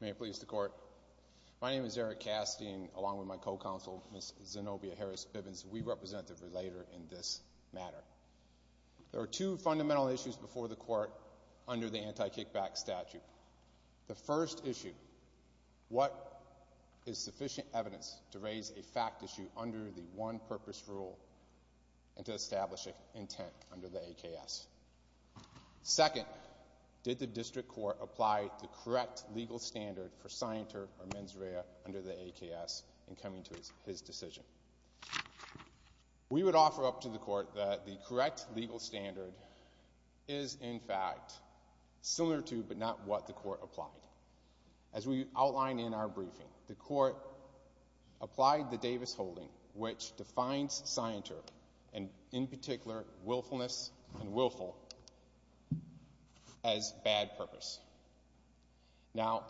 May it please the court, my name is Eric Cassidy and along with my co-counsel Ms. Zenobia Harris-Bibbins, we represent the relator in this matter. There are two fundamental issues before the court under the anti-kickback statute. The first issue, what is sufficient evidence to raise a fact issue under the one purpose rule and to establish an intent under the AKS? Second, did the district court apply the correct legal standard for signature or mens rea under the AKS in coming to his decision? We would offer up to the court that the correct legal standard is in fact similar to but not what the court applied. As we outline in our briefing, the court applied the Davis holding which defines signature and in particular willfulness and willful as bad purpose. Now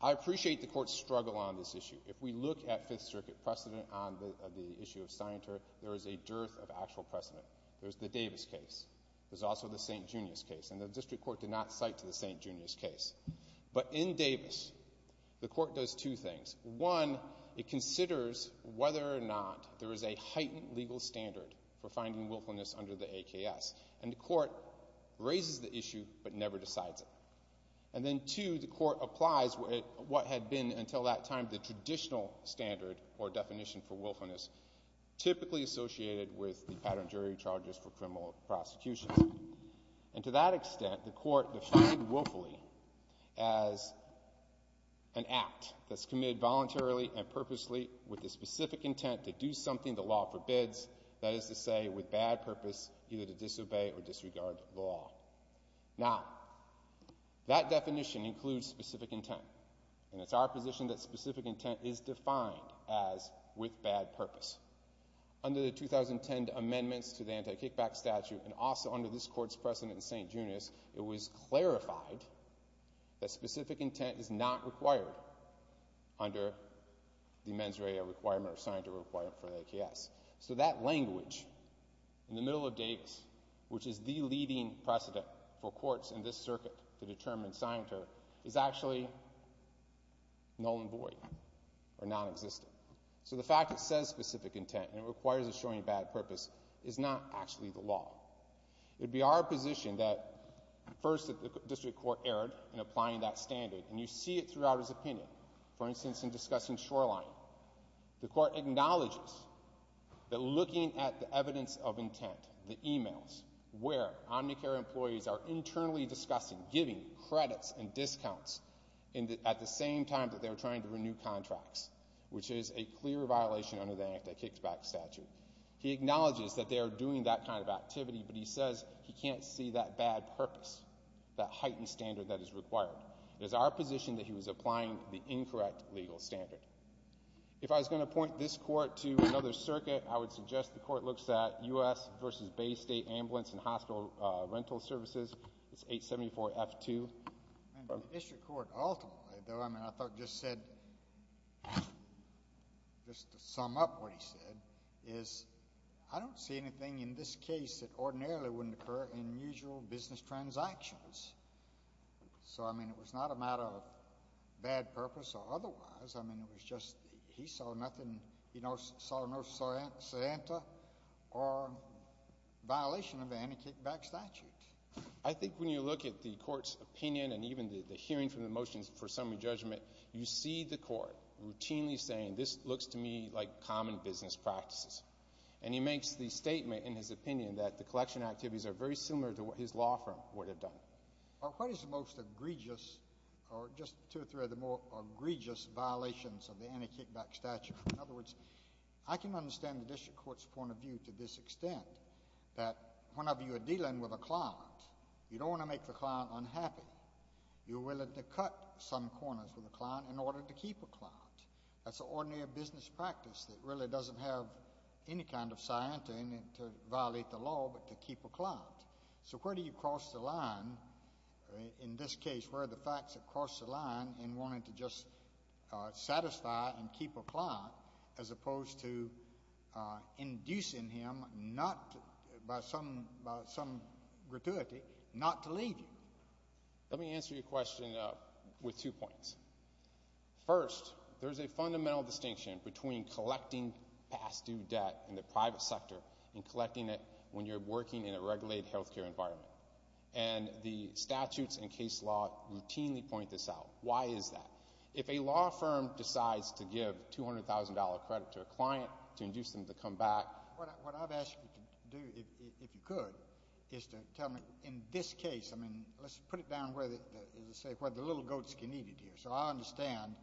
I appreciate the court's struggle on this issue. If we look at Fifth Circuit precedent on the issue of signature, there is a dearth of actual precedent. There's the Davis case. There's also the St. Junius case and the district court did not cite to the St. Junius case. But in Davis, the court does two things. One, it considers whether or not there is a heightened legal standard for finding willfulness under the AKS and the court raises the issue but never decides it. And then two, the court applies what had been until that time the traditional standard or And to that extent, the court defined willfully as an act that's committed voluntarily and purposely with the specific intent to do something the law forbids, that is to say with bad purpose either to disobey or disregard the law. Now, that definition includes specific intent and it's our position that specific intent is defined as with bad purpose. Under the 2010 amendments to the anti-kickback statute and also under this court's precedent in St. Junius, it was clarified that specific intent is not required under the mens rea requirement or signature requirement for the AKS. So that language in the middle of Dakes, which is the leading precedent for courts in this circuit to determine signature, is actually null and void or nonexistent. So the fact that it says specific intent and it requires a showing bad purpose is not actually the law. It would be our position that first that the district court erred in applying that standard and you see it throughout his opinion. For instance, in discussing Shoreline, the court acknowledges that looking at the evidence of intent, the emails, where Omnicare employees are internally discussing, giving credits and discounts at the same time that they're trying to renew contracts, which is a clear violation under the anti-kickback statute. He acknowledges that they are doing that kind of activity, but he says he can't see that bad purpose, that heightened standard that is required. It is our position that he was applying the incorrect legal standard. If I was going to point this court to another circuit, I would suggest the court looks at U.S. v. Bay State Ambulance and Hospital Rental Services, it's 874-F2. The district court ultimately, though, I mean, I thought it just said, just to sum up what he said, is I don't see anything in this case that ordinarily wouldn't occur in usual business transactions. So, I mean, it was not a matter of bad purpose or otherwise, I mean, it was just he saw nothing, he saw no Santa or violation of the anti-kickback statute. I think when you look at the court's opinion and even the hearing from the motions for summary judgment, you see the court routinely saying, this looks to me like common business practices. And he makes the statement in his opinion that the collection activities are very similar to what his law firm would have done. What is the most egregious or just two or three of the more egregious violations of the statute? In other words, I can understand the district court's point of view to this extent, that whenever you are dealing with a client, you don't want to make the client unhappy. You're willing to cut some corners with the client in order to keep a client. That's an ordinary business practice that really doesn't have any kind of scientin to violate the law but to keep a client. So where do you cross the line, in this case, where are the facts that cross the line in wanting to just satisfy and keep a client as opposed to inducing him not, by some gratuity, not to leave you? Let me answer your question with two points. First, there's a fundamental distinction between collecting past due debt in the private sector and collecting it when you're working in a regulated health care environment. And the statutes and case law routinely point this out. Why is that? If a law firm decides to give $200,000 credit to a client to induce them to come back. What I've asked you to do, if you could, is to tell me, in this case, I mean, let's put it down where the little goats can eat it here. So I understand,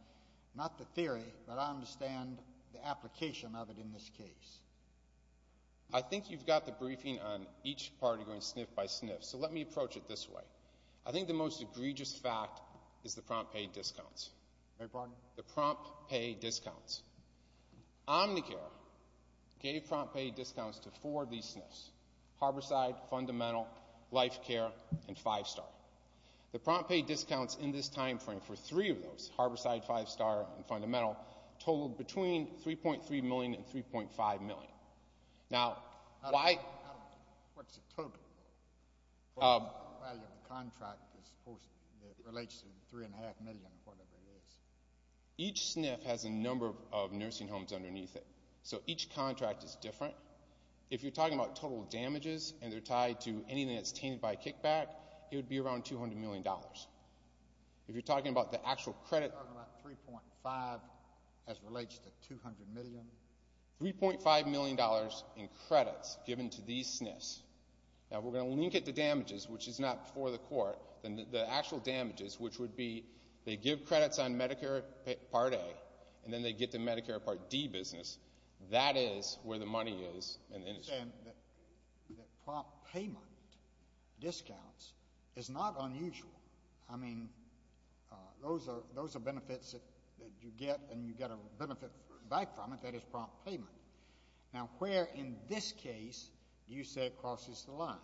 not the theory, but I understand the application of it in this case. I think you've got the briefing on each party going sniff by sniff. So let me approach it this way. I think the most egregious fact is the prompt pay discounts. The prompt pay discounts. Omnicare gave prompt pay discounts to four of these sniffs, Harborside, Fundamental, Life Care, and Five Star. The prompt pay discounts in this time frame for three of those, Harborside, Five Star, and Fundamental, totaled between $3.3 million and $3.5 million. Now, why? What's the total? The value of the contract is, of course, it relates to $3.5 million or whatever it is. Each sniff has a number of nursing homes underneath it. So each contract is different. If you're talking about total damages, and they're tied to anything that's tainted by kickback, it would be around $200 million. If you're talking about the actual credit. You're talking about $3.5 as relates to $200 million? $3.5 million in credits given to these sniffs. Now, we're going to link it to damages, which is not before the court. The actual damages, which would be, they give credits on Medicare Part A, and then they get the Medicare Part D business. That is where the money is. I understand that prompt payment discounts is not unusual. I mean, those are benefits that you get, and you get a benefit back from it, that is prompt payment. Now, where in this case do you say it crosses the line?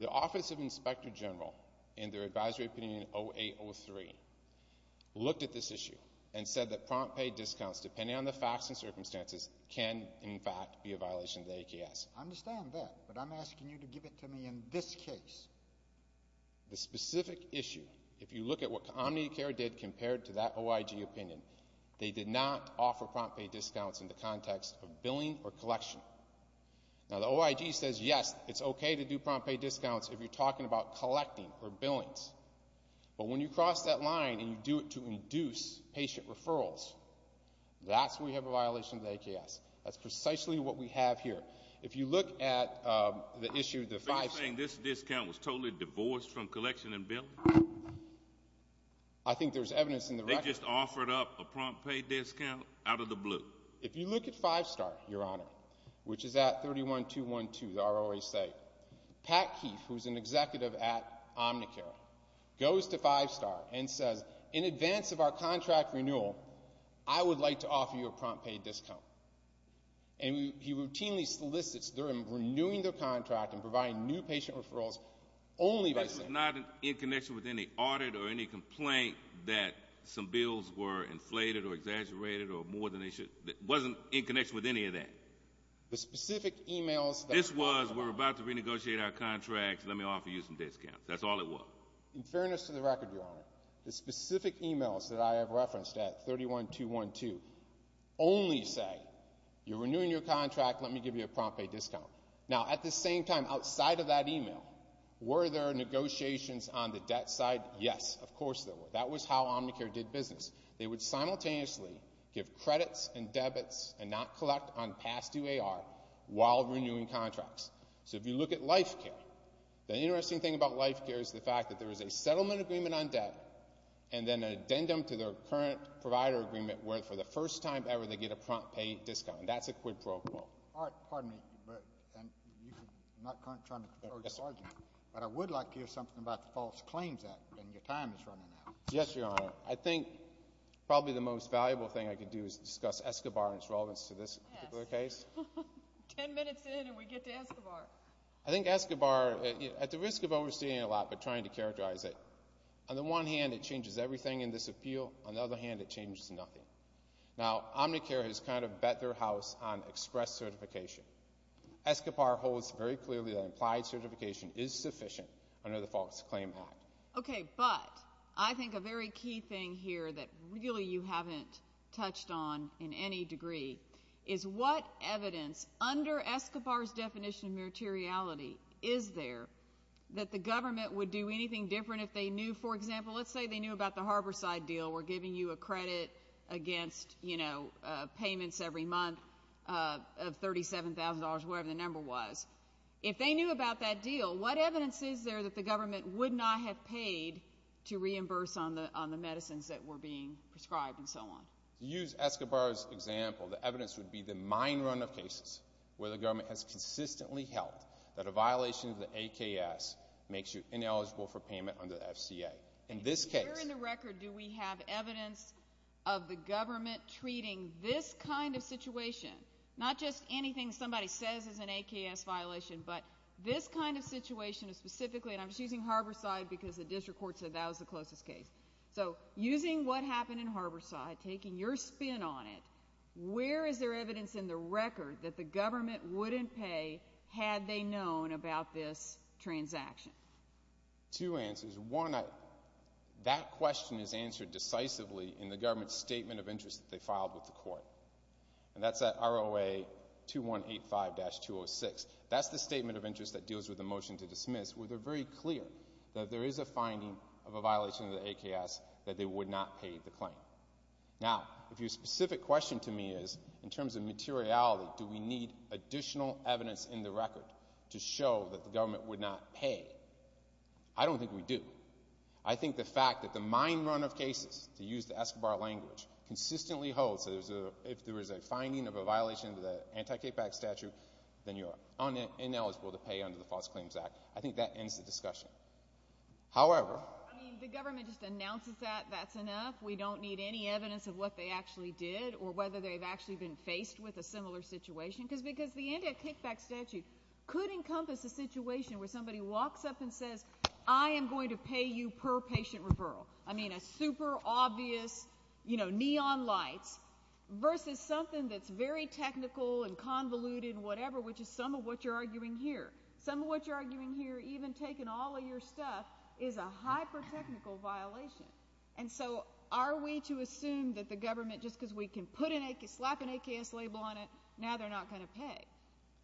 The Office of Inspector General, in their advisory opinion 0803, looked at this issue and said that prompt pay discounts, depending on the facts and circumstances, can in fact be a violation of the AKS. I understand that, but I'm asking you to give it to me in this case. The specific issue, if you look at what OmniCare did compared to that OIG opinion, they did not offer prompt pay discounts in the context of billing or collection. Now, the OIG says, yes, it's okay to do prompt pay discounts if you're talking about collecting or billings, but when you cross that line and you do it to induce patient referrals, that's where you have a violation of the AKS. That's precisely what we have here. If you look at the issue, the five-star- So you're saying this discount was totally divorced from collection and billing? I think there's evidence in the record- They just offered up a prompt pay discount out of the blue. If you look at Five Star, Your Honor, which is at 31212, the ROA site, Pat Keith, who's an executive at OmniCare, goes to Five Star and says, in advance of our contract renewal, I would like to offer you a prompt pay discount. And he routinely solicits them, renewing their contract and providing new patient referrals only by saying- This is not in connection with any audit or any complaint that some bills were inflated or exaggerated or more than they should- It wasn't in connection with any of that? The specific emails that- This was, we're about to renegotiate our contracts, let me offer you some discounts. That's all it was. In fairness to the record, Your Honor, the specific emails that I have referenced at You're renewing your contract, let me give you a prompt pay discount. Now, at the same time, outside of that email, were there negotiations on the debt side? Yes, of course there were. That was how OmniCare did business. They would simultaneously give credits and debits and not collect on past UAR while renewing contracts. So if you look at LifeCare, the interesting thing about LifeCare is the fact that there is a settlement agreement on debt and then an addendum to their current provider agreement where for the first time ever they get a prompt pay discount. That's a quid pro quo. All right. Pardon me. I'm not currently trying to control your argument, but I would like to hear something about the False Claims Act and your time is running out. Yes, Your Honor. I think probably the most valuable thing I could do is discuss Escobar and its relevance to this particular case. Yes. Ten minutes in and we get to Escobar. I think Escobar, at the risk of overstating a lot but trying to characterize it, on the one hand, it changes everything in this appeal. On the other hand, it changes nothing. Now OmniCare has kind of bet their house on express certification. Escobar holds very clearly that implied certification is sufficient under the False Claims Act. Okay. But I think a very key thing here that really you haven't touched on in any degree is what evidence under Escobar's definition of materiality is there that the government would do anything different if they knew, for example, let's say they knew about the Harborside deal where giving you a credit against, you know, payments every month of $37,000, whatever the number was. If they knew about that deal, what evidence is there that the government would not have paid to reimburse on the medicines that were being prescribed and so on? Use Escobar's example, the evidence would be the mine run of cases where the government has consistently held that a violation of the AKS makes you ineligible for payment under the FCA. In this case— Where in the record do we have evidence of the government treating this kind of situation, not just anything somebody says is an AKS violation, but this kind of situation specifically—and I'm just using Harborside because the district court said that was the closest case. So using what happened in Harborside, taking your spin on it, where is there evidence in the record that the government wouldn't pay had they known about this transaction? Two answers. One, that question is answered decisively in the government's statement of interest that they filed with the court, and that's at ROA 2185-206. That's the statement of interest that deals with the motion to dismiss where they're very clear that there is a finding of a violation of the AKS that they would not pay the claim. Now, if your specific question to me is, in terms of materiality, do we need additional evidence in the record to show that the government would not pay, I don't think we do. I think the fact that the mine run of cases, to use the Escobar language, consistently holds that if there is a finding of a violation of the anti-KPAC statute, then you are ineligible to pay under the False Claims Act. I think that ends the discussion. However— I mean, the government just announces that, that's enough. We don't need any evidence of what they actually did or whether they've actually been faced with a similar situation, because the anti-KPAC statute could encompass a situation where somebody walks up and says, I am going to pay you per patient referral. I mean, a super obvious, you know, neon lights, versus something that's very technical and convoluted and whatever, which is some of what you're arguing here. Some of what you're arguing here, even taking all of your stuff, is a hyper-technical violation. And so, are we to assume that the government, just because we can slap an AKS label on it, now they're not going to pay?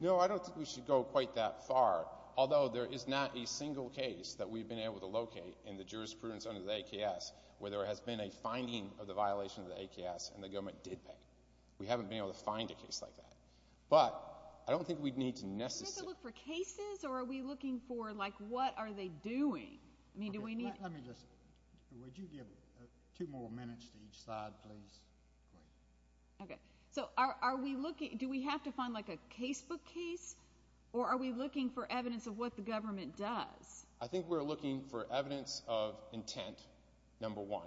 No, I don't think we should go quite that far, although there is not a single case that we've been able to locate in the jurisprudence under the AKS where there has been a finding of the violation of the AKS and the government did pay. We haven't been able to find a case like that. But I don't think we need to necessarily— Do we have to look for cases, or are we looking for, like, what are they doing? I mean, do we need— Let me just—would you give two more minutes to each side, please? Great. Okay. So, are we looking—do we have to find, like, a casebook case, or are we looking for evidence of what the government does? I think we're looking for evidence of intent, number one.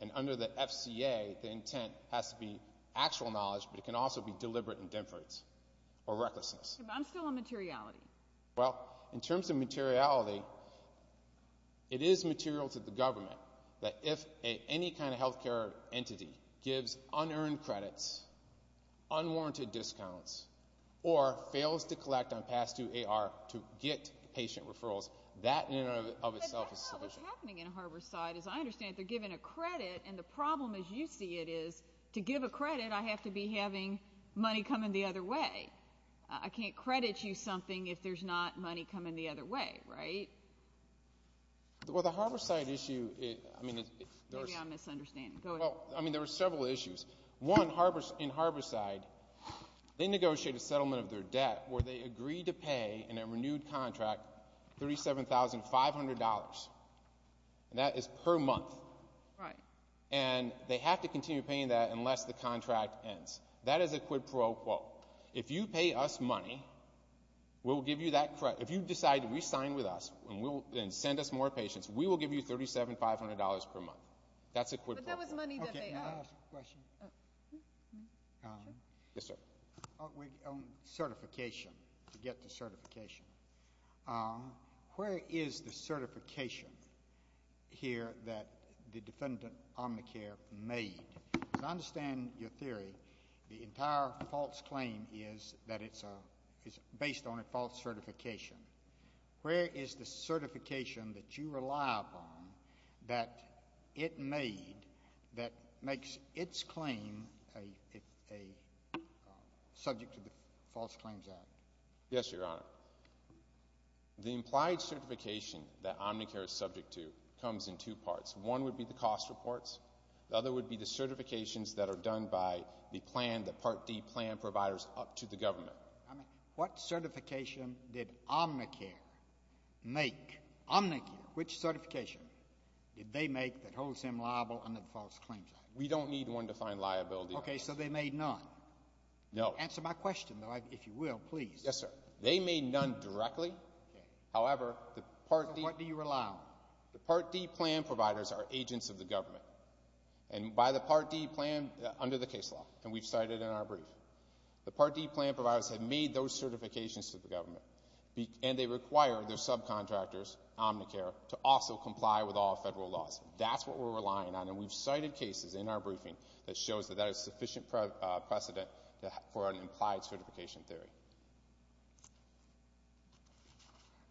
And under the FCA, the intent has to be actual knowledge, but it can also be deliberate indifference or recklessness. But I'm still on materiality. Well, in terms of materiality, it is material to the government that if any kind of health care entity gives unearned credits, unwarranted discounts, or fails to collect on past-due AR to get patient referrals, that in and of itself is sufficient. But that's not what's happening in Harborside, is I understand they're giving a credit, and the problem, as you see it, is to give a credit, I have to be having money coming the other way. Right. I can't credit you something if there's not money coming the other way, right? Well, the Harborside issue, I mean, there's— Maybe I'm misunderstanding. Go ahead. Well, I mean, there were several issues. One, in Harborside, they negotiated a settlement of their debt where they agreed to pay in a renewed contract $37,500, and that is per month. Right. And they have to continue paying that unless the contract ends. That is a quid pro quo. If you pay us money, we'll give you that credit. If you decide to re-sign with us and send us more patients, we will give you $37,500 per month. That's a quid pro quo. But that was money that made up. Okay. I have a question. Yes, sir. Certification. To get to certification. Where is the certification here that the defendant, Omnicare, made? Because I understand your theory. The entire false claim is that it's based on a false certification. Where is the certification that you rely upon that it made that makes its claim subject to the False Claims Act? Yes, Your Honor. The implied certification that Omnicare is subject to comes in two parts. One would be the cost reports. The other would be the certifications that are done by the plan, the Part D plan providers up to the government. What certification did Omnicare make, Omnicare? Which certification did they make that holds him liable under the False Claims Act? We don't need one to find liability. Okay. So they made none? No. Answer my question, though, if you will, please. Yes, sir. They made none directly. Okay. However, the Part D. So what do you rely on? The Part D plan providers are agents of the government. And by the Part D plan, under the case law, and we've cited in our brief, the Part D plan providers have made those certifications to the government. And they require their subcontractors, Omnicare, to also comply with all federal laws. That's what we're relying on. And we've cited cases in our briefing that shows that that is sufficient precedent for an implied certification theory.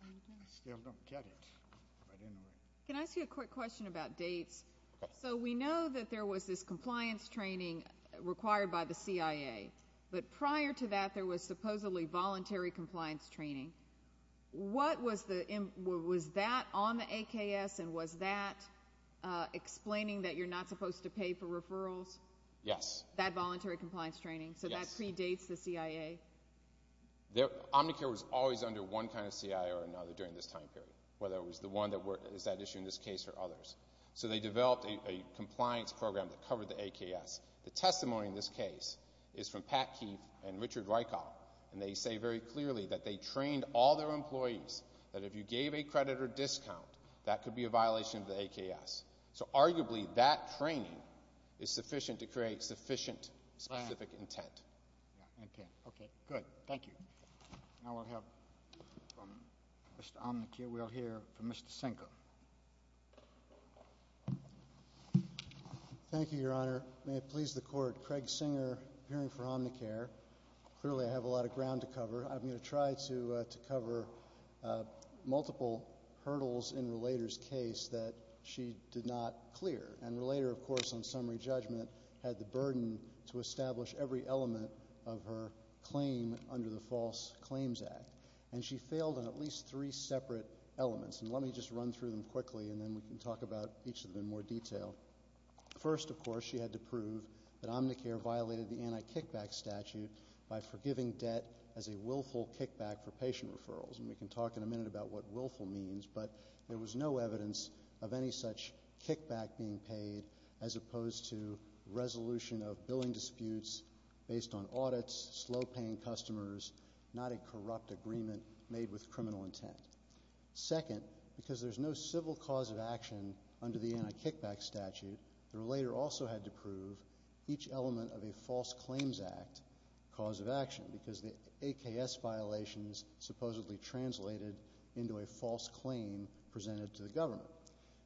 I still don't get it. Can I ask you a quick question about dates? Okay. So we know that there was this compliance training required by the CIA. But prior to that, there was supposedly voluntary compliance training. What was that on the AKS, and was that explaining that you're not supposed to pay for referrals? Yes. That voluntary compliance training? Yes. So that predates the CIA? Omnicare was always under one kind of CIA or another during this time period, whether it was the one that is at issue in this case or others. So they developed a compliance program that covered the AKS. The testimony in this case is from Pat Keefe and Richard Rykoff, and they say very clearly that they trained all their employees that if you gave a credit or discount, that could be a violation of the AKS. So arguably, that training is sufficient to create sufficient specific intent. Okay. Okay. Good. Thank you. Now we'll have from Mr. Omnicare, we'll hear from Mr. Sinker. Thank you, Your Honor. May it please the Court. Craig Sinker, appearing for Omnicare. Clearly, I have a lot of ground to cover. I'm going to try to cover multiple hurdles in Relator's case that she did not clear. And Relator, of course, on summary judgment, had the burden to establish every element of her claim under the False Claims Act, and she failed on at least three separate elements. And let me just run through them quickly, and then we can talk about each of them in more detail. First, of course, she had to prove that Omnicare violated the anti-kickback statute by forgiving debt as a willful kickback for patient referrals. And we can talk in a minute about what willful means, but there was no evidence of any such audits, slow-paying customers, not a corrupt agreement made with criminal intent. Second, because there's no civil cause of action under the anti-kickback statute, the Relator also had to prove each element of a False Claims Act cause of action, because the AKS violations supposedly translated into a false claim presented to the Governor.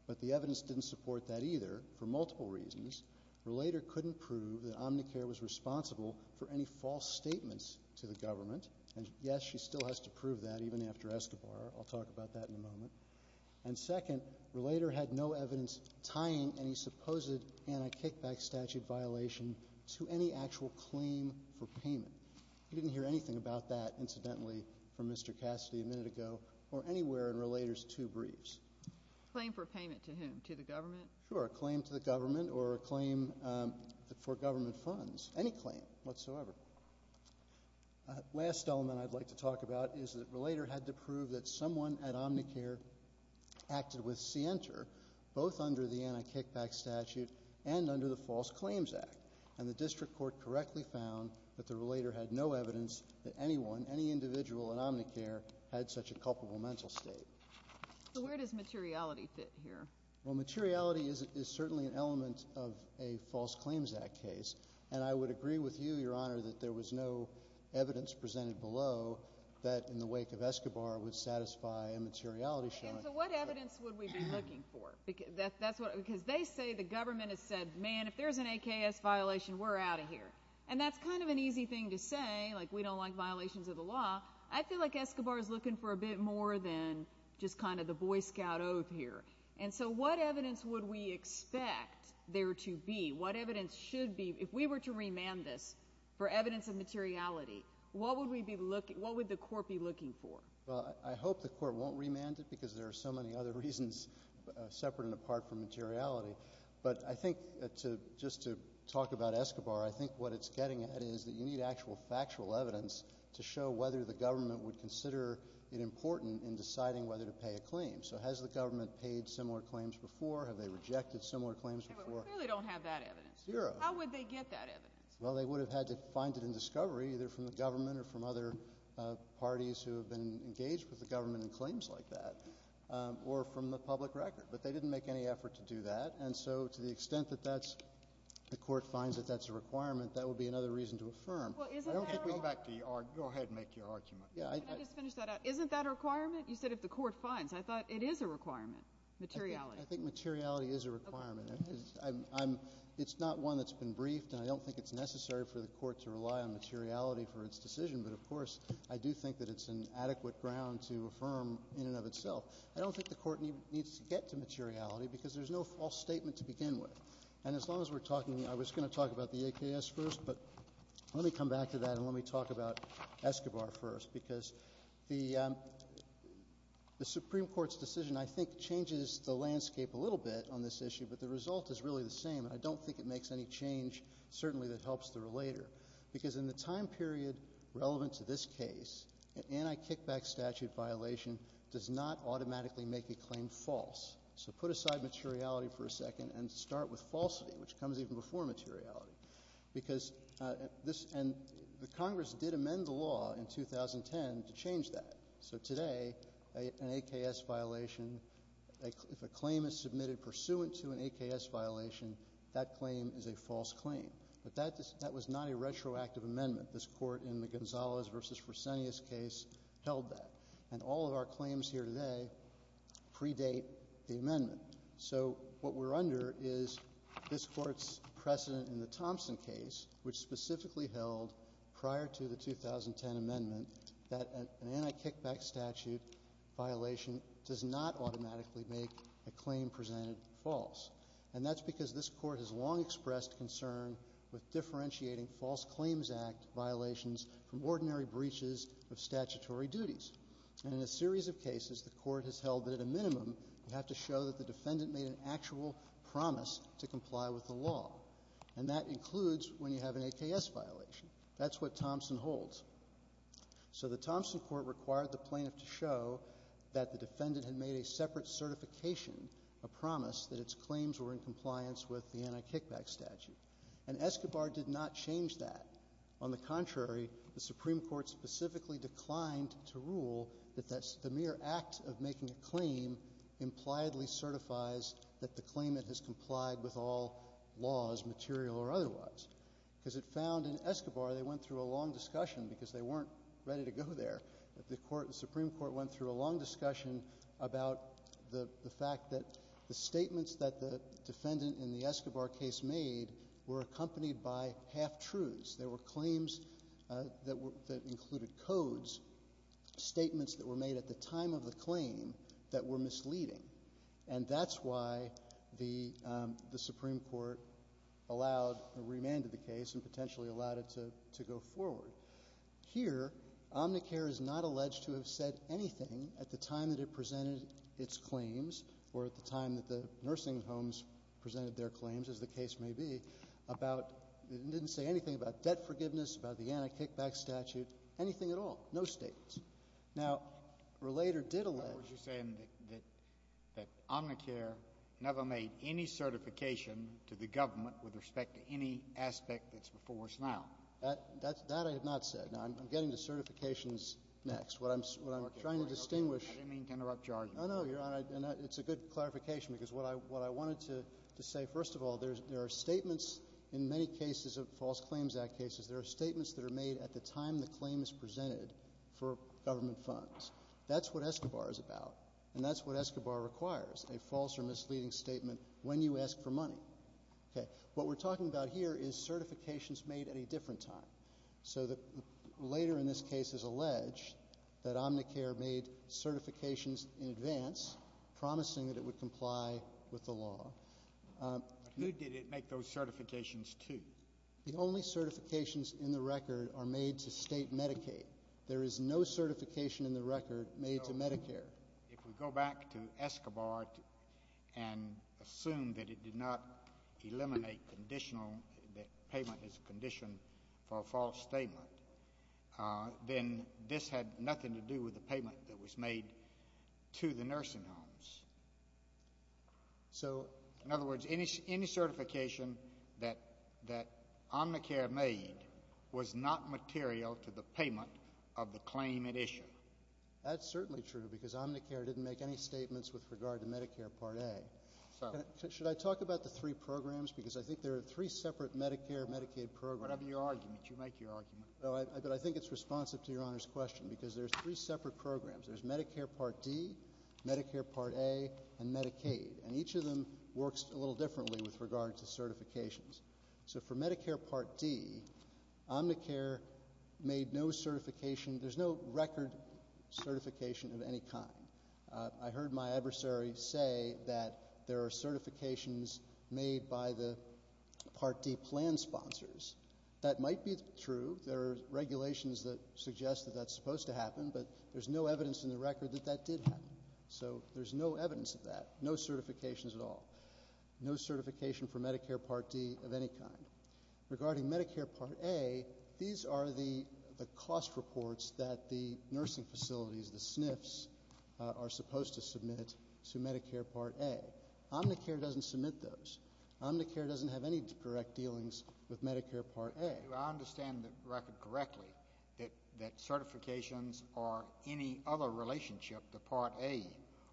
But the evidence didn't support that either, for multiple reasons. Relator couldn't prove that Omnicare was responsible for any false statements to the government, and yes, she still has to prove that, even after Escobar. I'll talk about that in a moment. And second, Relator had no evidence tying any supposed anti-kickback statute violation to any actual claim for payment. We didn't hear anything about that, incidentally, from Mr. Cassidy a minute ago, or anywhere in Relator's two briefs. Claim for payment to whom? To the government? Sure, a claim to the government, or a claim for government funds. Any claim, whatsoever. Last element I'd like to talk about is that Relator had to prove that someone at Omnicare acted with scienter, both under the anti-kickback statute and under the False Claims Act. And the District Court correctly found that the Relator had no evidence that anyone, any individual at Omnicare, had such a culpable mental state. So where does materiality fit here? Well, materiality is certainly an element of a False Claims Act case. And I would agree with you, Your Honor, that there was no evidence presented below that in the wake of Escobar would satisfy a materiality showing. And so what evidence would we be looking for? Because they say the government has said, man, if there's an AKS violation, we're out of here. And that's kind of an easy thing to say, like we don't like violations of the law. I feel like Escobar's looking for a bit more than just kind of the Boy Scout oath here. And so what evidence would we expect there to be? What evidence should be, if we were to remand this for evidence of materiality, what would we be looking, what would the Court be looking for? Well, I hope the Court won't remand it because there are so many other reasons separate and apart from materiality. But I think to, just to talk about Escobar, I think what it's getting at is that you need actual factual evidence to show whether the government would consider it important in deciding whether to pay a claim. So has the government paid similar claims before? Have they rejected similar claims before? We clearly don't have that evidence. Zero. How would they get that evidence? Well, they would have had to find it in discovery, either from the government or from other parties who have been engaged with the government in claims like that, or from the public record. But they didn't make any effort to do that. And so to the extent that that's, the Court finds that that's a requirement, that would be another reason to affirm. Well, isn't that a requirement? Go back to your argument. Go ahead and make your argument. Yeah. Can I just finish that out? Isn't that a requirement? You said if the Court finds. I thought it is a requirement. Materiality. I think materiality is a requirement. Okay. I'm, I'm, it's not one that's been briefed, and I don't think it's necessary for the Court to rely on materiality for its decision, but of course, I do think that it's an adequate ground to affirm in and of itself. I don't think the Court needs to get to materiality because there's no false statement to begin with. And as long as we're talking, I was going to talk about the AKS first, but let me come back and talk about Escobar first, because the, um, the Supreme Court's decision, I think, changes the landscape a little bit on this issue, but the result is really the same, and I don't think it makes any change, certainly, that helps the relator. Because in the time period relevant to this case, an anti-kickback statute violation does not automatically make a claim false. So put aside materiality for a second and start with falsity, which comes even before materiality, because, uh, this, and the Congress did amend the law in 2010 to change that. So today, a, an AKS violation, a, if a claim is submitted pursuant to an AKS violation, that claim is a false claim, but that, that was not a retroactive amendment. This Court in the Gonzales v. Fresenius case held that, and all of our claims here today predate the amendment. So what we're under is this Court's precedent in the Thompson case, which specifically held prior to the 2010 amendment, that an anti-kickback statute violation does not automatically make a claim presented false. And that's because this Court has long expressed concern with differentiating false claims act violations from ordinary breaches of statutory duties, and in a series of cases, the Court has held that at a minimum, you have to show that the defendant made an actual promise to comply with the law, and that includes when you have an AKS violation. That's what Thompson holds. So the Thompson Court required the plaintiff to show that the defendant had made a separate certification, a promise that its claims were in compliance with the anti-kickback statute, and Escobar did not change that. On the contrary, the Supreme Court specifically declined to rule that that's the mere act of making a claim impliedly certifies that the claimant has complied with all laws, material or otherwise. Because it found in Escobar, they went through a long discussion, because they weren't ready to go there, that the Supreme Court went through a long discussion about the fact that the statements that the defendant in the Escobar case made were accompanied by half-truths. There were claims that included codes, statements that were made at the time of the claim that were misleading, and that's why the Supreme Court allowed or remanded the case and potentially allowed it to go forward. Here, Omnicare is not alleged to have said anything at the time that it presented its claims or at the time that the nursing homes presented their claims, as the case may be, about, it didn't say anything about debt forgiveness, about the anti-kickback statute, anything at all, no statements. Now, Relator did allege— In other words, you're saying that Omnicare never made any certification to the government with respect to any aspect that's before us now. That I have not said. Now, I'm getting to certifications next. What I'm trying to distinguish— I didn't mean to interrupt your argument. Oh, no, Your Honor, and it's a good clarification, because what I wanted to say, first of all, there are statements in many cases of false claims act cases, there are statements that are made at the time the claim is presented for government funds. That's what Escobar is about, and that's what Escobar requires, a false or misleading statement when you ask for money. What we're talking about here is certifications made at a different time, so that later in this case is alleged that Omnicare made certifications in advance, promising that it would comply with the law. But who did it make those certifications to? The only certifications in the record are made to state Medicaid. There is no certification in the record made to Medicare. So, if we go back to Escobar and assume that it did not eliminate conditional—that payment is a condition for a false statement, then this had nothing to do with the payment that was made to the nursing homes. So, in other words, any certification that Omnicare made was not material to the payment of the claim at issue? That's certainly true, because Omnicare didn't make any statements with regard to Medicare Part A. So? Should I talk about the three programs? Because I think there are three separate Medicare and Medicaid programs. Whatever your argument, you make your argument. No, but I think it's responsive to Your Honor's question, because there's three separate programs. There's Medicare Part D, Medicare Part A, and Medicaid, and each of them works a little differently with regard to certifications. So for Medicare Part D, Omnicare made no certification—there's no record certification of any kind. I heard my adversary say that there are certifications made by the Part D plan sponsors. That might be true. There are regulations that suggest that that's supposed to happen, but there's no evidence in the record that that did happen. So there's no evidence of that, no certifications at all. No certification for Medicare Part D of any kind. Regarding Medicare Part A, these are the cost reports that the nursing facilities, the SNFs, are supposed to submit to Medicare Part A. Omnicare doesn't submit those. Omnicare doesn't have any direct dealings with Medicare Part A. Do I understand the record correctly that certifications or any other relationship to Part A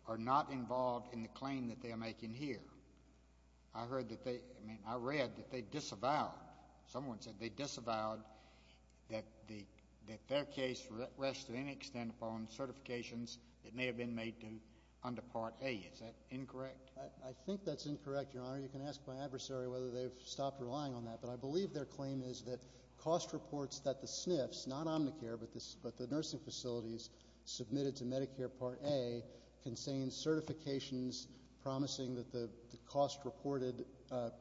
are not involved in the claim that they are making here? I heard that they—I mean, I read that they disavowed—someone said they disavowed that their case rests to any extent upon certifications that may have been made to—under Part A. Is that incorrect? I think that's incorrect, Your Honor. You can ask my adversary whether they've stopped relying on that, but I believe their claim is that cost reports that the SNFs—not Omnicare, but the nursing facilities—submitted to Medicare Part A contain certifications promising that the cost-reported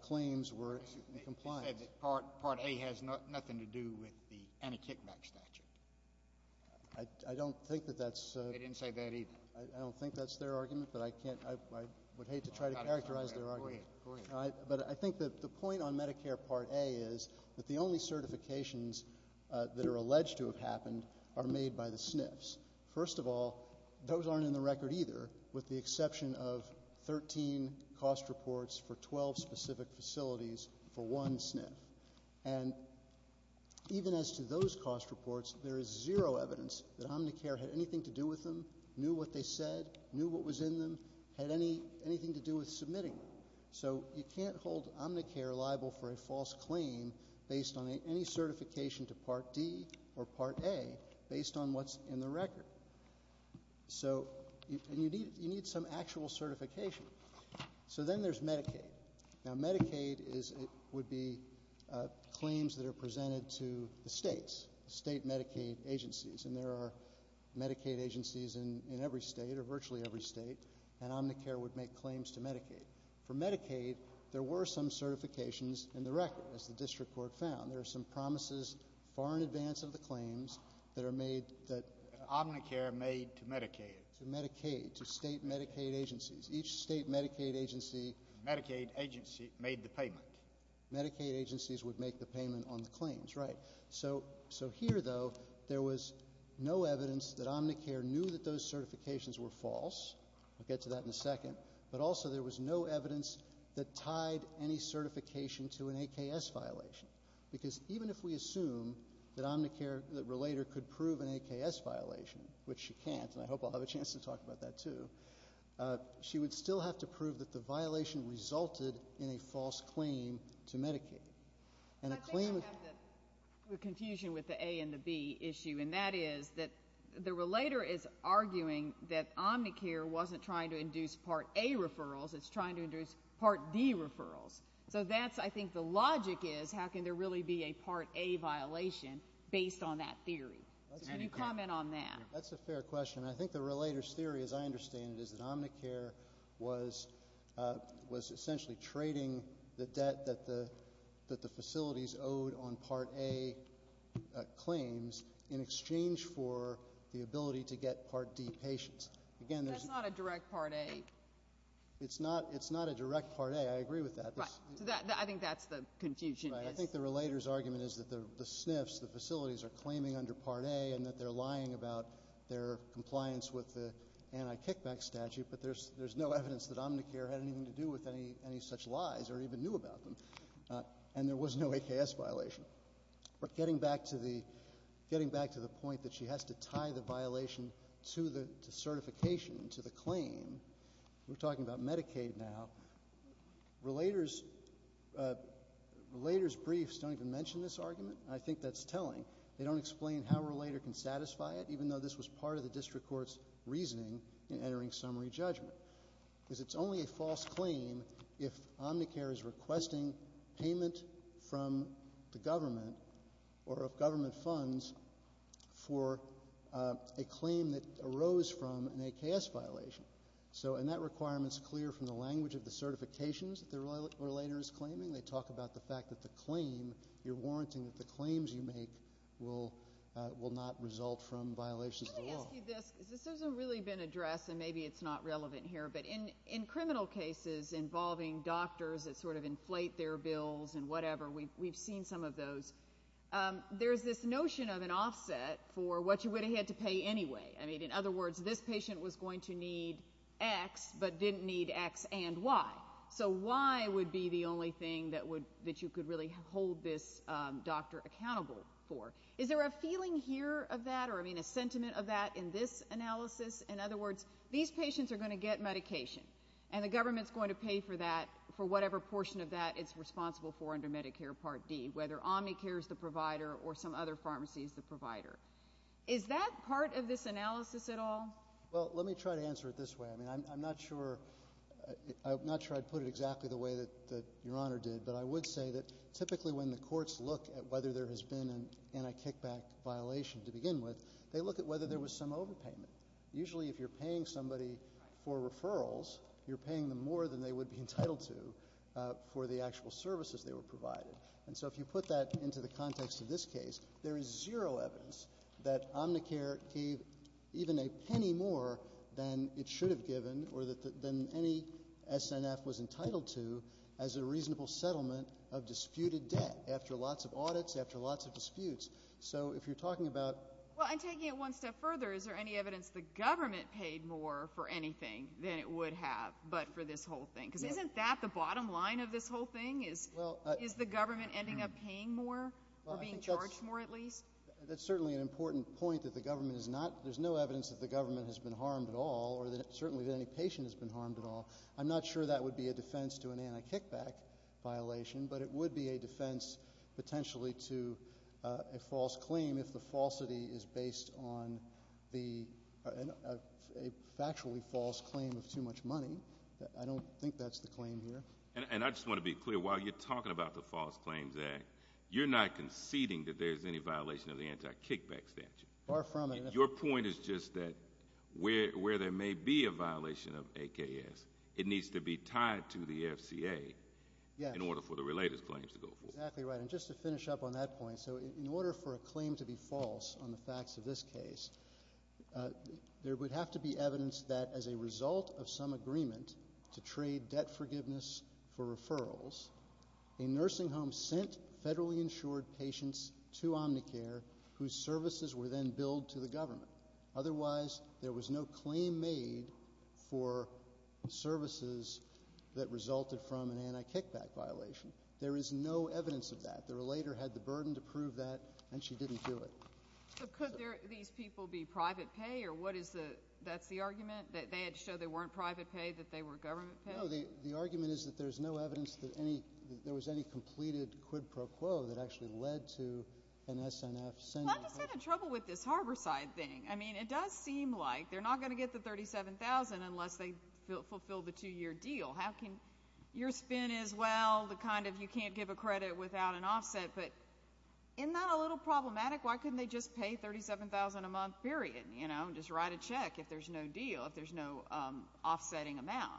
claims were in compliance. They said that Part A has nothing to do with the anti-kickback statute. I don't think that that's— They didn't say that either. I don't think that's their argument, but I can't—I would hate to try to characterize their argument. Go ahead. But I think that the point on Medicare Part A is that the only certifications that are alleged to have happened are made by the SNFs. First of all, those aren't in the record either, with the exception of 13 cost reports for 12 specific facilities for one SNF. And even as to those cost reports, there is zero evidence that Omnicare had anything to do with them, knew what they said, knew what was in them, had anything to do with submitting them. So you can't hold Omnicare liable for a false claim based on any certification to Part D or Part A based on what's in the record. So you need some actual certification. So then there's Medicaid. Now, Medicaid would be claims that are presented to the states, state Medicaid agencies, and there are Medicaid agencies in every state or virtually every state, and Omnicare would make claims to Medicaid. For Medicaid, there were some certifications in the record, as the district court found. There are some promises far in advance of the claims that are made that— Omnicare made to Medicaid. To Medicaid, to state Medicaid agencies. Each state Medicaid agency— Medicaid agency made the payment. Medicaid agencies would make the payment on the claims, right. So here, though, there was no evidence that Omnicare knew that those certifications were false. We'll get to that in a second. But also, there was no evidence that tied any certification to an AKS violation. Because even if we assume that Omnicare, that Relator, could prove an AKS violation, which she can't, and I hope I'll have a chance to talk about that, too, she would still have to prove that the violation resulted in a false claim to Medicaid. And a claim— I think you have the confusion with the A and the B issue, and that is that the Relator is arguing that Omnicare wasn't trying to induce Part A referrals, it's trying to induce Part D referrals. So that's, I think, the logic is, how can there really be a Part A violation based on that theory? Can you comment on that? That's a fair question. I think the Relator's theory, as I understand it, is that Omnicare was essentially trading the debt that the facilities owed on Part A claims in exchange for the ability to get Part D patients. Again, there's— That's not a direct Part A. It's not a direct Part A. I agree with that. I think that's the confusion. Right. I think the Relator's argument is that the SNFs, the facilities, are claiming under Part A and that they're lying about their compliance with the anti-kickback statute, but there's no evidence that Omnicare had anything to do with any such lies or even knew about them, and there was no AKS violation. But getting back to the point that she has to tie the violation to certification, to the claim, we're talking about Medicaid now, Relator's briefs don't even mention this argument. I think that's telling. They don't explain how a Relator can satisfy it, even though this was part of the district court's reasoning in entering summary judgment, because it's only a false claim if Omnicare is requesting payment from the government or if government funds for a claim that arose from an AKS violation. So and that requirement is clear from the language of the certifications that the Relator is claiming. They talk about the fact that the claim, you're warranting that the claims you make will not result from violations at all. Let me ask you this. This hasn't really been addressed, and maybe it's not relevant here, but in criminal cases involving doctors that sort of inflate their bills and whatever, we've seen some of those. There's this notion of an offset for what you would have had to pay anyway. I mean, in other words, this patient was going to need X but didn't need X and Y. So Y would be the only thing that you could really hold this doctor accountable for. Is there a feeling here of that or, I mean, a sentiment of that in this analysis? In other words, these patients are going to get medication, and the government's going to pay for that, for whatever portion of that it's responsible for under Medicare Part D, whether Omnicare is the provider or some other pharmacy is the provider. Is that part of this analysis at all? Well, let me try to answer it this way. I mean, I'm not sure I'd put it exactly the way that Your Honor did, but I would say that typically when the courts look at whether there has been an anti-kickback violation to begin with, they look at whether there was some overpayment. Usually if you're paying somebody for referrals, you're paying them more than they would be entitled to for the actual services they were provided. And so if you put that into the context of this case, there is zero evidence that Omnicare gave even a penny more than it should have given or than any SNF was entitled to as a debt after lots of audits, after lots of disputes. So if you're talking about... Well, and taking it one step further, is there any evidence the government paid more for anything than it would have, but for this whole thing? Because isn't that the bottom line of this whole thing, is the government ending up paying more or being charged more at least? That's certainly an important point that the government is not, there's no evidence that the government has been harmed at all, or certainly that any patient has been harmed at all. I'm not sure that would be a defense to an anti-kickback violation, but it would be a defense potentially to a false claim if the falsity is based on a factually false claim of too much money. I don't think that's the claim here. And I just want to be clear, while you're talking about the False Claims Act, you're not conceding that there's any violation of the anti-kickback statute. Far from it. Your point is just that where there may be a violation of AKS, it needs to be tied to the FCA in order for the related claims to go forward. Exactly right. And just to finish up on that point, so in order for a claim to be false on the facts of this case, there would have to be evidence that as a result of some agreement to trade debt forgiveness for referrals, a nursing home sent federally insured patients to Omnicare whose services were then billed to the government. Otherwise, there was no claim made for services that resulted from an anti-kickback violation. There is no evidence of that. The relator had the burden to prove that, and she didn't do it. So could these people be private pay, or what is the, that's the argument, that they had to show they weren't private pay, that they were government pay? No, the argument is that there's no evidence that any, that there was any completed quid pro quo that actually led to an SNF sending. Well, I'm just having trouble with this Harborside thing. I mean, it does seem like they're not going to get the $37,000 unless they fulfill the two-year deal. How can, your spin is, well, the kind of you can't give a credit without an offset, but isn't that a little problematic? Why couldn't they just pay $37,000 a month, period, you know, and just write a check if there's no deal, if there's no offsetting amount?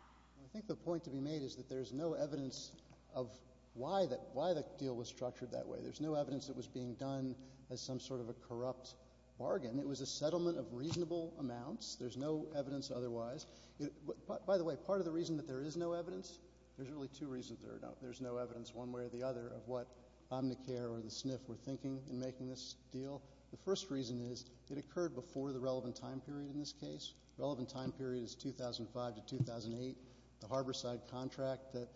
I think the point to be made is that there's no evidence of why that, why the deal was structured that way. There's no evidence it was being done as some sort of a corrupt bargain. It was a settlement of reasonable amounts. There's no evidence otherwise. By the way, part of the reason that there is no evidence, there's really two reasons there are no, there's no evidence one way or the other of what Omnicare or the SNF were thinking in making this deal. The first reason is it occurred before the relevant time period in this case. Relevant time period is 2005 to 2008. The harborside contract that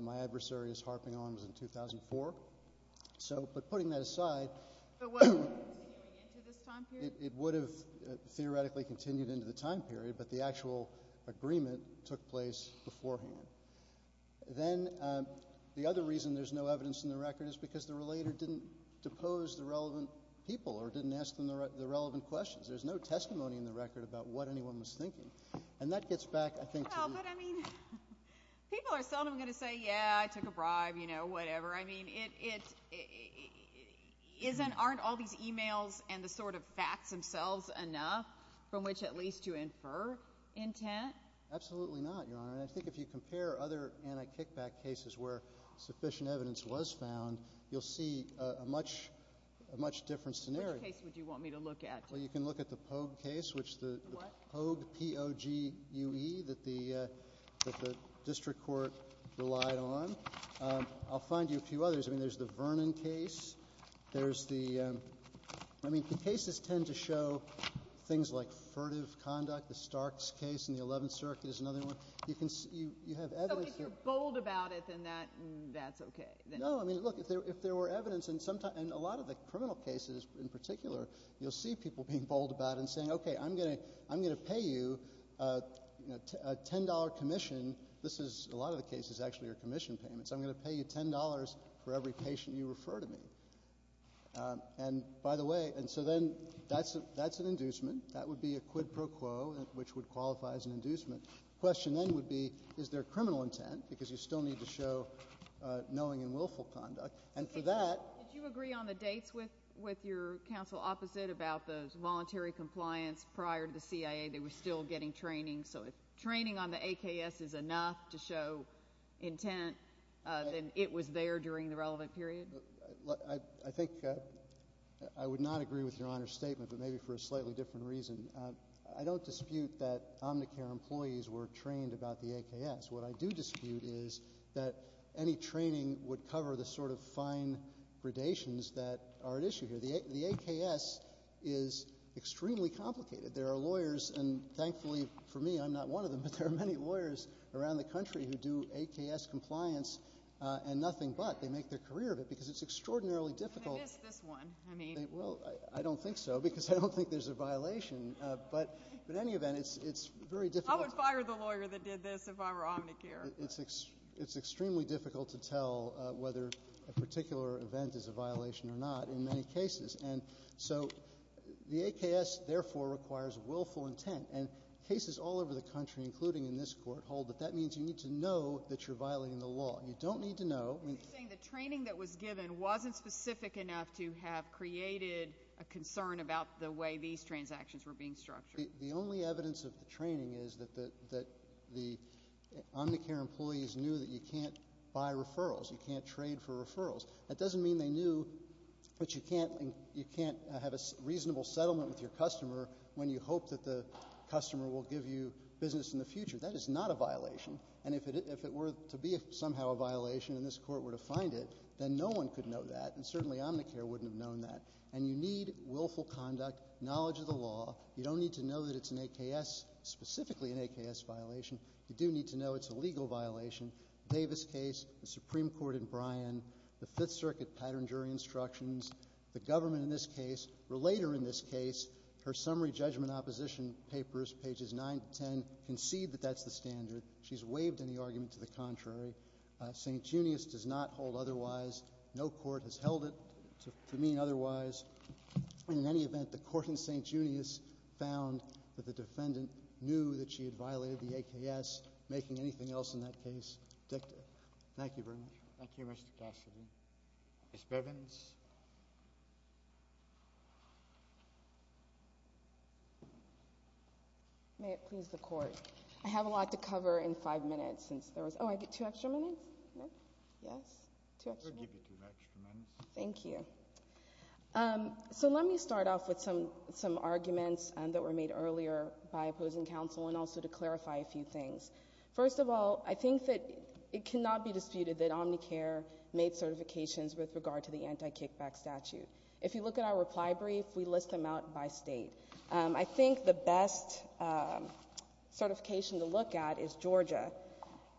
my adversary is harping on was in 2004. So but putting that aside. But was it continuing into this time period? It would have theoretically continued into the time period, but the actual agreement took place beforehand. Then the other reason there's no evidence in the record is because the relator didn't depose the relevant people or didn't ask them the relevant questions. There's no testimony in the record about what anyone was thinking. And that gets back, I think, to. Well, but I mean, people are seldom going to say, yeah, I took a bribe, you know, whatever. I mean, it, it isn't, aren't all these emails and the sort of facts themselves enough from which at least to infer intent? Absolutely not, Your Honor. And I think if you compare other anti-kickback cases where sufficient evidence was found, you'll see a much, a much different scenario. Which case would you want me to look at? Well, you can look at the Pogue case, which the Pogue, P-O-G-U-E, that the, that the district court relied on. I'll find you a few others. I mean, there's the Vernon case. There's the, I mean, the cases tend to show things like furtive conduct. The Starks case in the 11th Circuit is another one. You can see, you, you have evidence. So if you're bold about it, then that, that's okay. No, I mean, look, if there, if there were evidence and sometimes, and a lot of the criminal cases in particular, you'll see people being bold about it and saying, okay, I'm gonna, I'm gonna pay you a $10 commission. This is, a lot of the cases actually are commission payments. I'm gonna pay you $10 for every patient you refer to me. And by the way, and so then that's, that's an inducement. That would be a quid pro quo, which would qualify as an inducement. Question then would be, is there criminal intent? Because you still need to show knowing and willful conduct. And for that. Did you agree on the dates with, with your counsel opposite about the voluntary compliance prior to the CIA? They were still getting training. So if training on the AKS is enough to show intent, then it was there during the relevant period? Look, I, I think I would not agree with Your Honor's statement, but maybe for a slightly different reason. I don't dispute that Omnicare employees were trained about the AKS. What I do dispute is that any training would cover the sort of fine predations that are at issue here. The AKS is extremely complicated. There are lawyers, and thankfully for me, I'm not one of them, but there are many lawyers around the country who do AKS compliance and nothing but. They make their career of it because it's extraordinarily difficult. And they missed this one. I mean. Well, I don't think so because I don't think there's a violation, but in any event, it's, it's very difficult. I would fire the lawyer that did this if I were Omnicare. It's extremely difficult to tell whether a particular event is a violation or not in many cases. And so the AKS, therefore, requires willful intent. And cases all over the country, including in this court, hold that that means you need to know that you're violating the law. You don't need to know. You're saying the training that was given wasn't specific enough to have created a concern about the way these transactions were being structured. The only evidence of the training is that the Omnicare employees knew that you can't buy referrals. You can't trade for referrals. That doesn't mean they knew, but you can't have a reasonable settlement with your customer when you hope that the customer will give you business in the future. That is not a violation. And if it were to be somehow a violation and this court were to find it, then no one could know that. And certainly Omnicare wouldn't have known that. And you need willful conduct, knowledge of the law. You don't need to know that it's an AKS, specifically an AKS violation. You do need to know it's a legal violation. The Davis case, the Supreme Court in Bryan, the Fifth Circuit pattern jury instructions, the government in this case, or later in this case, her summary judgment opposition papers, pages 9 to 10, concede that that's the standard. She's waived any argument to the contrary. St. Junius does not hold otherwise. No court has held it to mean otherwise. In any event, the court in St. Junius found that the defendant knew that she had violated the AKS, making anything else in that case dictative. Thank you very much. Thank you, Mr. Cassidy. Ms. Bivens? May it please the Court, I have a lot to cover in five minutes since there was—oh, I get two extra minutes? No? Yes? Two extra minutes? We'll give you two extra minutes. Thank you. So let me start off with some arguments that were made earlier by opposing counsel and also to clarify a few things. First of all, I think that it cannot be disputed that Omnicare made certifications with regard to the anti-kickback statute. If you look at our reply brief, we list them out by state. I think the best certification to look at is Georgia.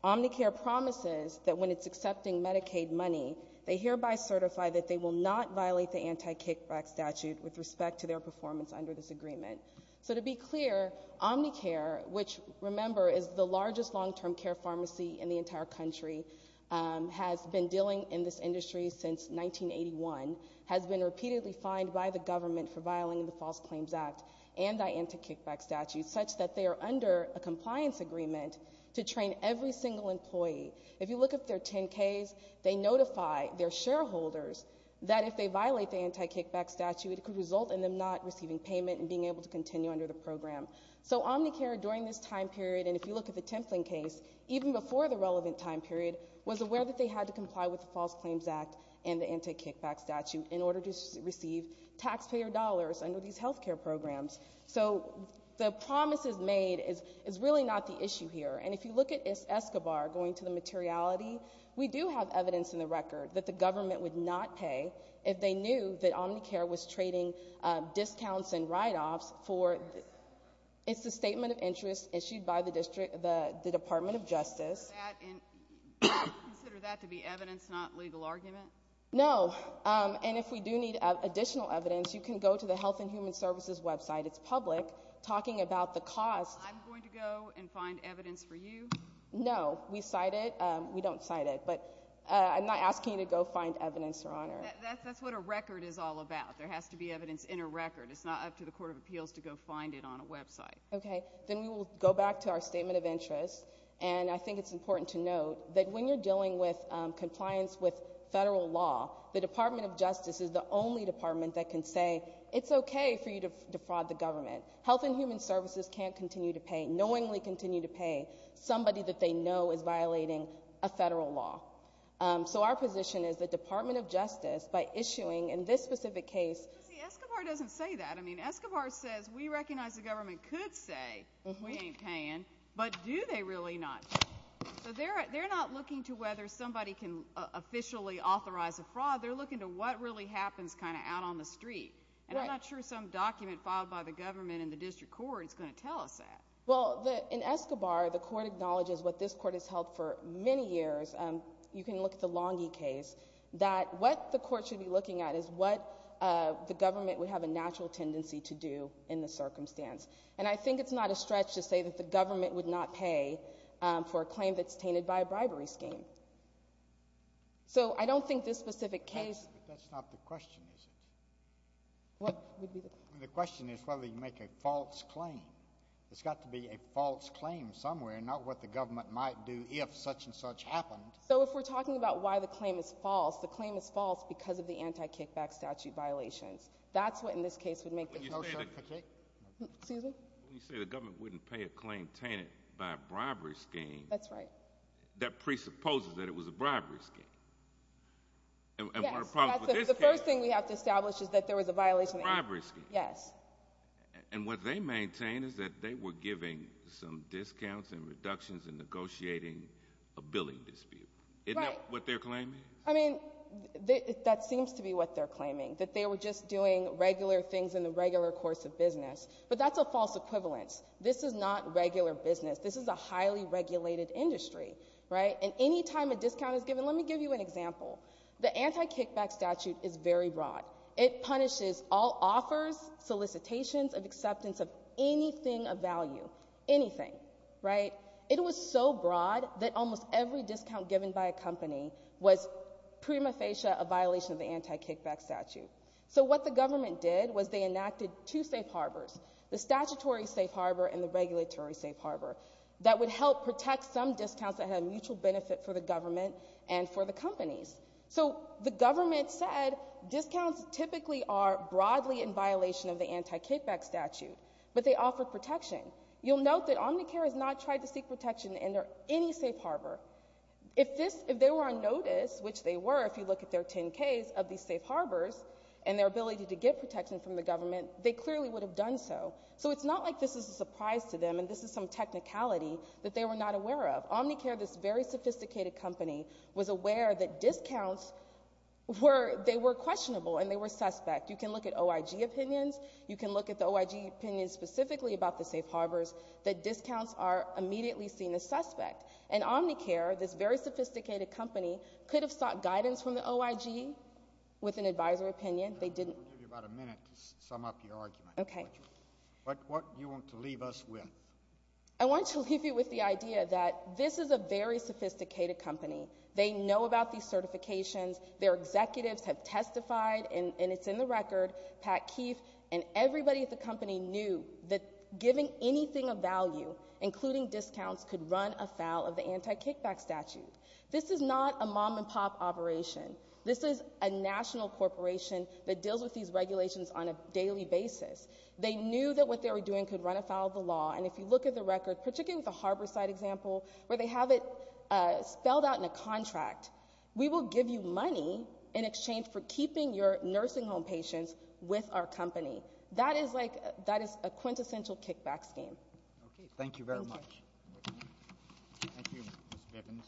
Omnicare promises that when it's accepting Medicaid money, they hereby certify that they will not violate the anti-kickback statute with respect to their performance under this agreement. So to be clear, Omnicare, which, remember, is the largest long-term care pharmacy in the entire country, has been dealing in this industry since 1981, has been repeatedly fined by the government for violating the False Claims Act and the anti-kickback statute such that they are under a compliance agreement to train every single employee. If you look at their 10-Ks, they notify their shareholders that if they violate the anti-kickback statute, it could result in them not receiving payment and being able to continue under the program. So Omnicare, during this time period, and if you look at the Templin case, even before the relevant time period, was aware that they had to comply with the False Claims Act and the anti-kickback statute in order to receive taxpayer dollars under these health care programs. So the promises made is really not the issue here. And if you look at Escobar, going to the materiality, we do have evidence in the record that the government would not pay if they knew that Omnicare was trading discounts and write-offs for the Statement of Interest issued by the Department of Justice. Do you consider that to be evidence, not legal argument? No. And if we do need additional evidence, you can go to the Health and Human Services website. It's public. Talking about the cost... I'm going to go and find evidence for you? No. We cite it. We don't cite it. But I'm not asking you to go find evidence, Your Honor. That's what a record is all about. There has to be evidence in a record. It's not up to the Court of Appeals to go find it on a website. Okay. Then we will go back to our Statement of Interest. And I think it's important to note that when you're dealing with compliance with federal law, the Department of Justice is the only department that can say, it's okay for you to defraud the government. Health and Human Services can't continue to pay, knowingly continue to pay, somebody that they know is violating a federal law. So our position is the Department of Justice, by issuing in this specific case... But see, Escobar doesn't say that. I mean, Escobar says, we recognize the government could say they ain't paying, but do they really not? So they're not looking to whether somebody can officially authorize a fraud. They're looking to what really happens kind of out on the street. And I'm not sure some document filed by the government and the district court is going to tell us that. Well, in Escobar, the court acknowledges what this court has held for many years. You can look at the Longy case. That what the court should be looking at is what the government would have a natural tendency to do in the circumstance. And I think it's not a stretch to say that the government would not pay for a claim that's tainted by a bribery scheme. So I don't think this specific case... But that's not the question, is it? The question is whether you make a false claim. It's got to be a false claim somewhere, not what the government might do if such and such happened. So if we're talking about why the claim is false, the claim is false because of the anti-kickback statute violations. That's what in this case would make the motion... Excuse me? When you say the government wouldn't pay a claim tainted by a bribery scheme... That's right. That presupposes that it was a bribery scheme. And what about this case? Yes. The first thing we have to establish is that there was a violation of... A bribery scheme. Yes. And what they maintain is that they were giving some discounts and reductions in negotiating a billing dispute. Right. Isn't that what their claim is? I mean, that seems to be what they're claiming. That they were just doing regular things in the regular course of business. But that's a false equivalence. This is not regular business. This is a highly regulated industry. Right. And any time a discount is given... Let me give you an example. The anti-kickback statute is very broad. It punishes all offers, solicitations of acceptance of anything of value. Anything. Right. It was so broad that almost every discount given by a company was prima facie a violation of the anti-kickback statute. So what the government did was they enacted two safe harbors. The statutory safe harbor and the regulatory safe harbor. That would help protect some discounts that had mutual benefit for the government and for the companies. So the government said discounts typically are broadly in violation of the anti-kickback statute. But they offer protection. You'll note that Omnicare has not tried to seek protection under any safe harbor. If they were on notice, which they were if you look at their 10Ks of these safe harbors and their ability to get protection from the government, they clearly would have done so. So it's not like this is a surprise to them and this is some technicality that they were not aware of. Omnicare, this very sophisticated company, was aware that discounts were questionable and they were suspect. You can look at OIG opinions. You can look at the OIG opinions specifically about the safe harbors, that discounts are immediately seen as suspect. And Omnicare, this very sophisticated company, could have sought guidance from the OIG with an advisory opinion. They didn't. We'll give you about a minute to sum up your argument. What do you want to leave us with? I want to leave you with the idea that this is a very sophisticated company. They know about these certifications. Their executives have testified and it's in the record, Pat Keefe, and everybody at that giving anything of value, including discounts, could run afoul of the anti-kickback statute. This is not a mom-and-pop operation. This is a national corporation that deals with these regulations on a daily basis. They knew that what they were doing could run afoul of the law and if you look at the record, particularly with the Harborside example, where they have it spelled out in a contract, we will give you money in exchange for keeping your nursing home patients with our company. That is a quintessential kickback scheme. Thank you very much. Thank you, Ms. Bivens.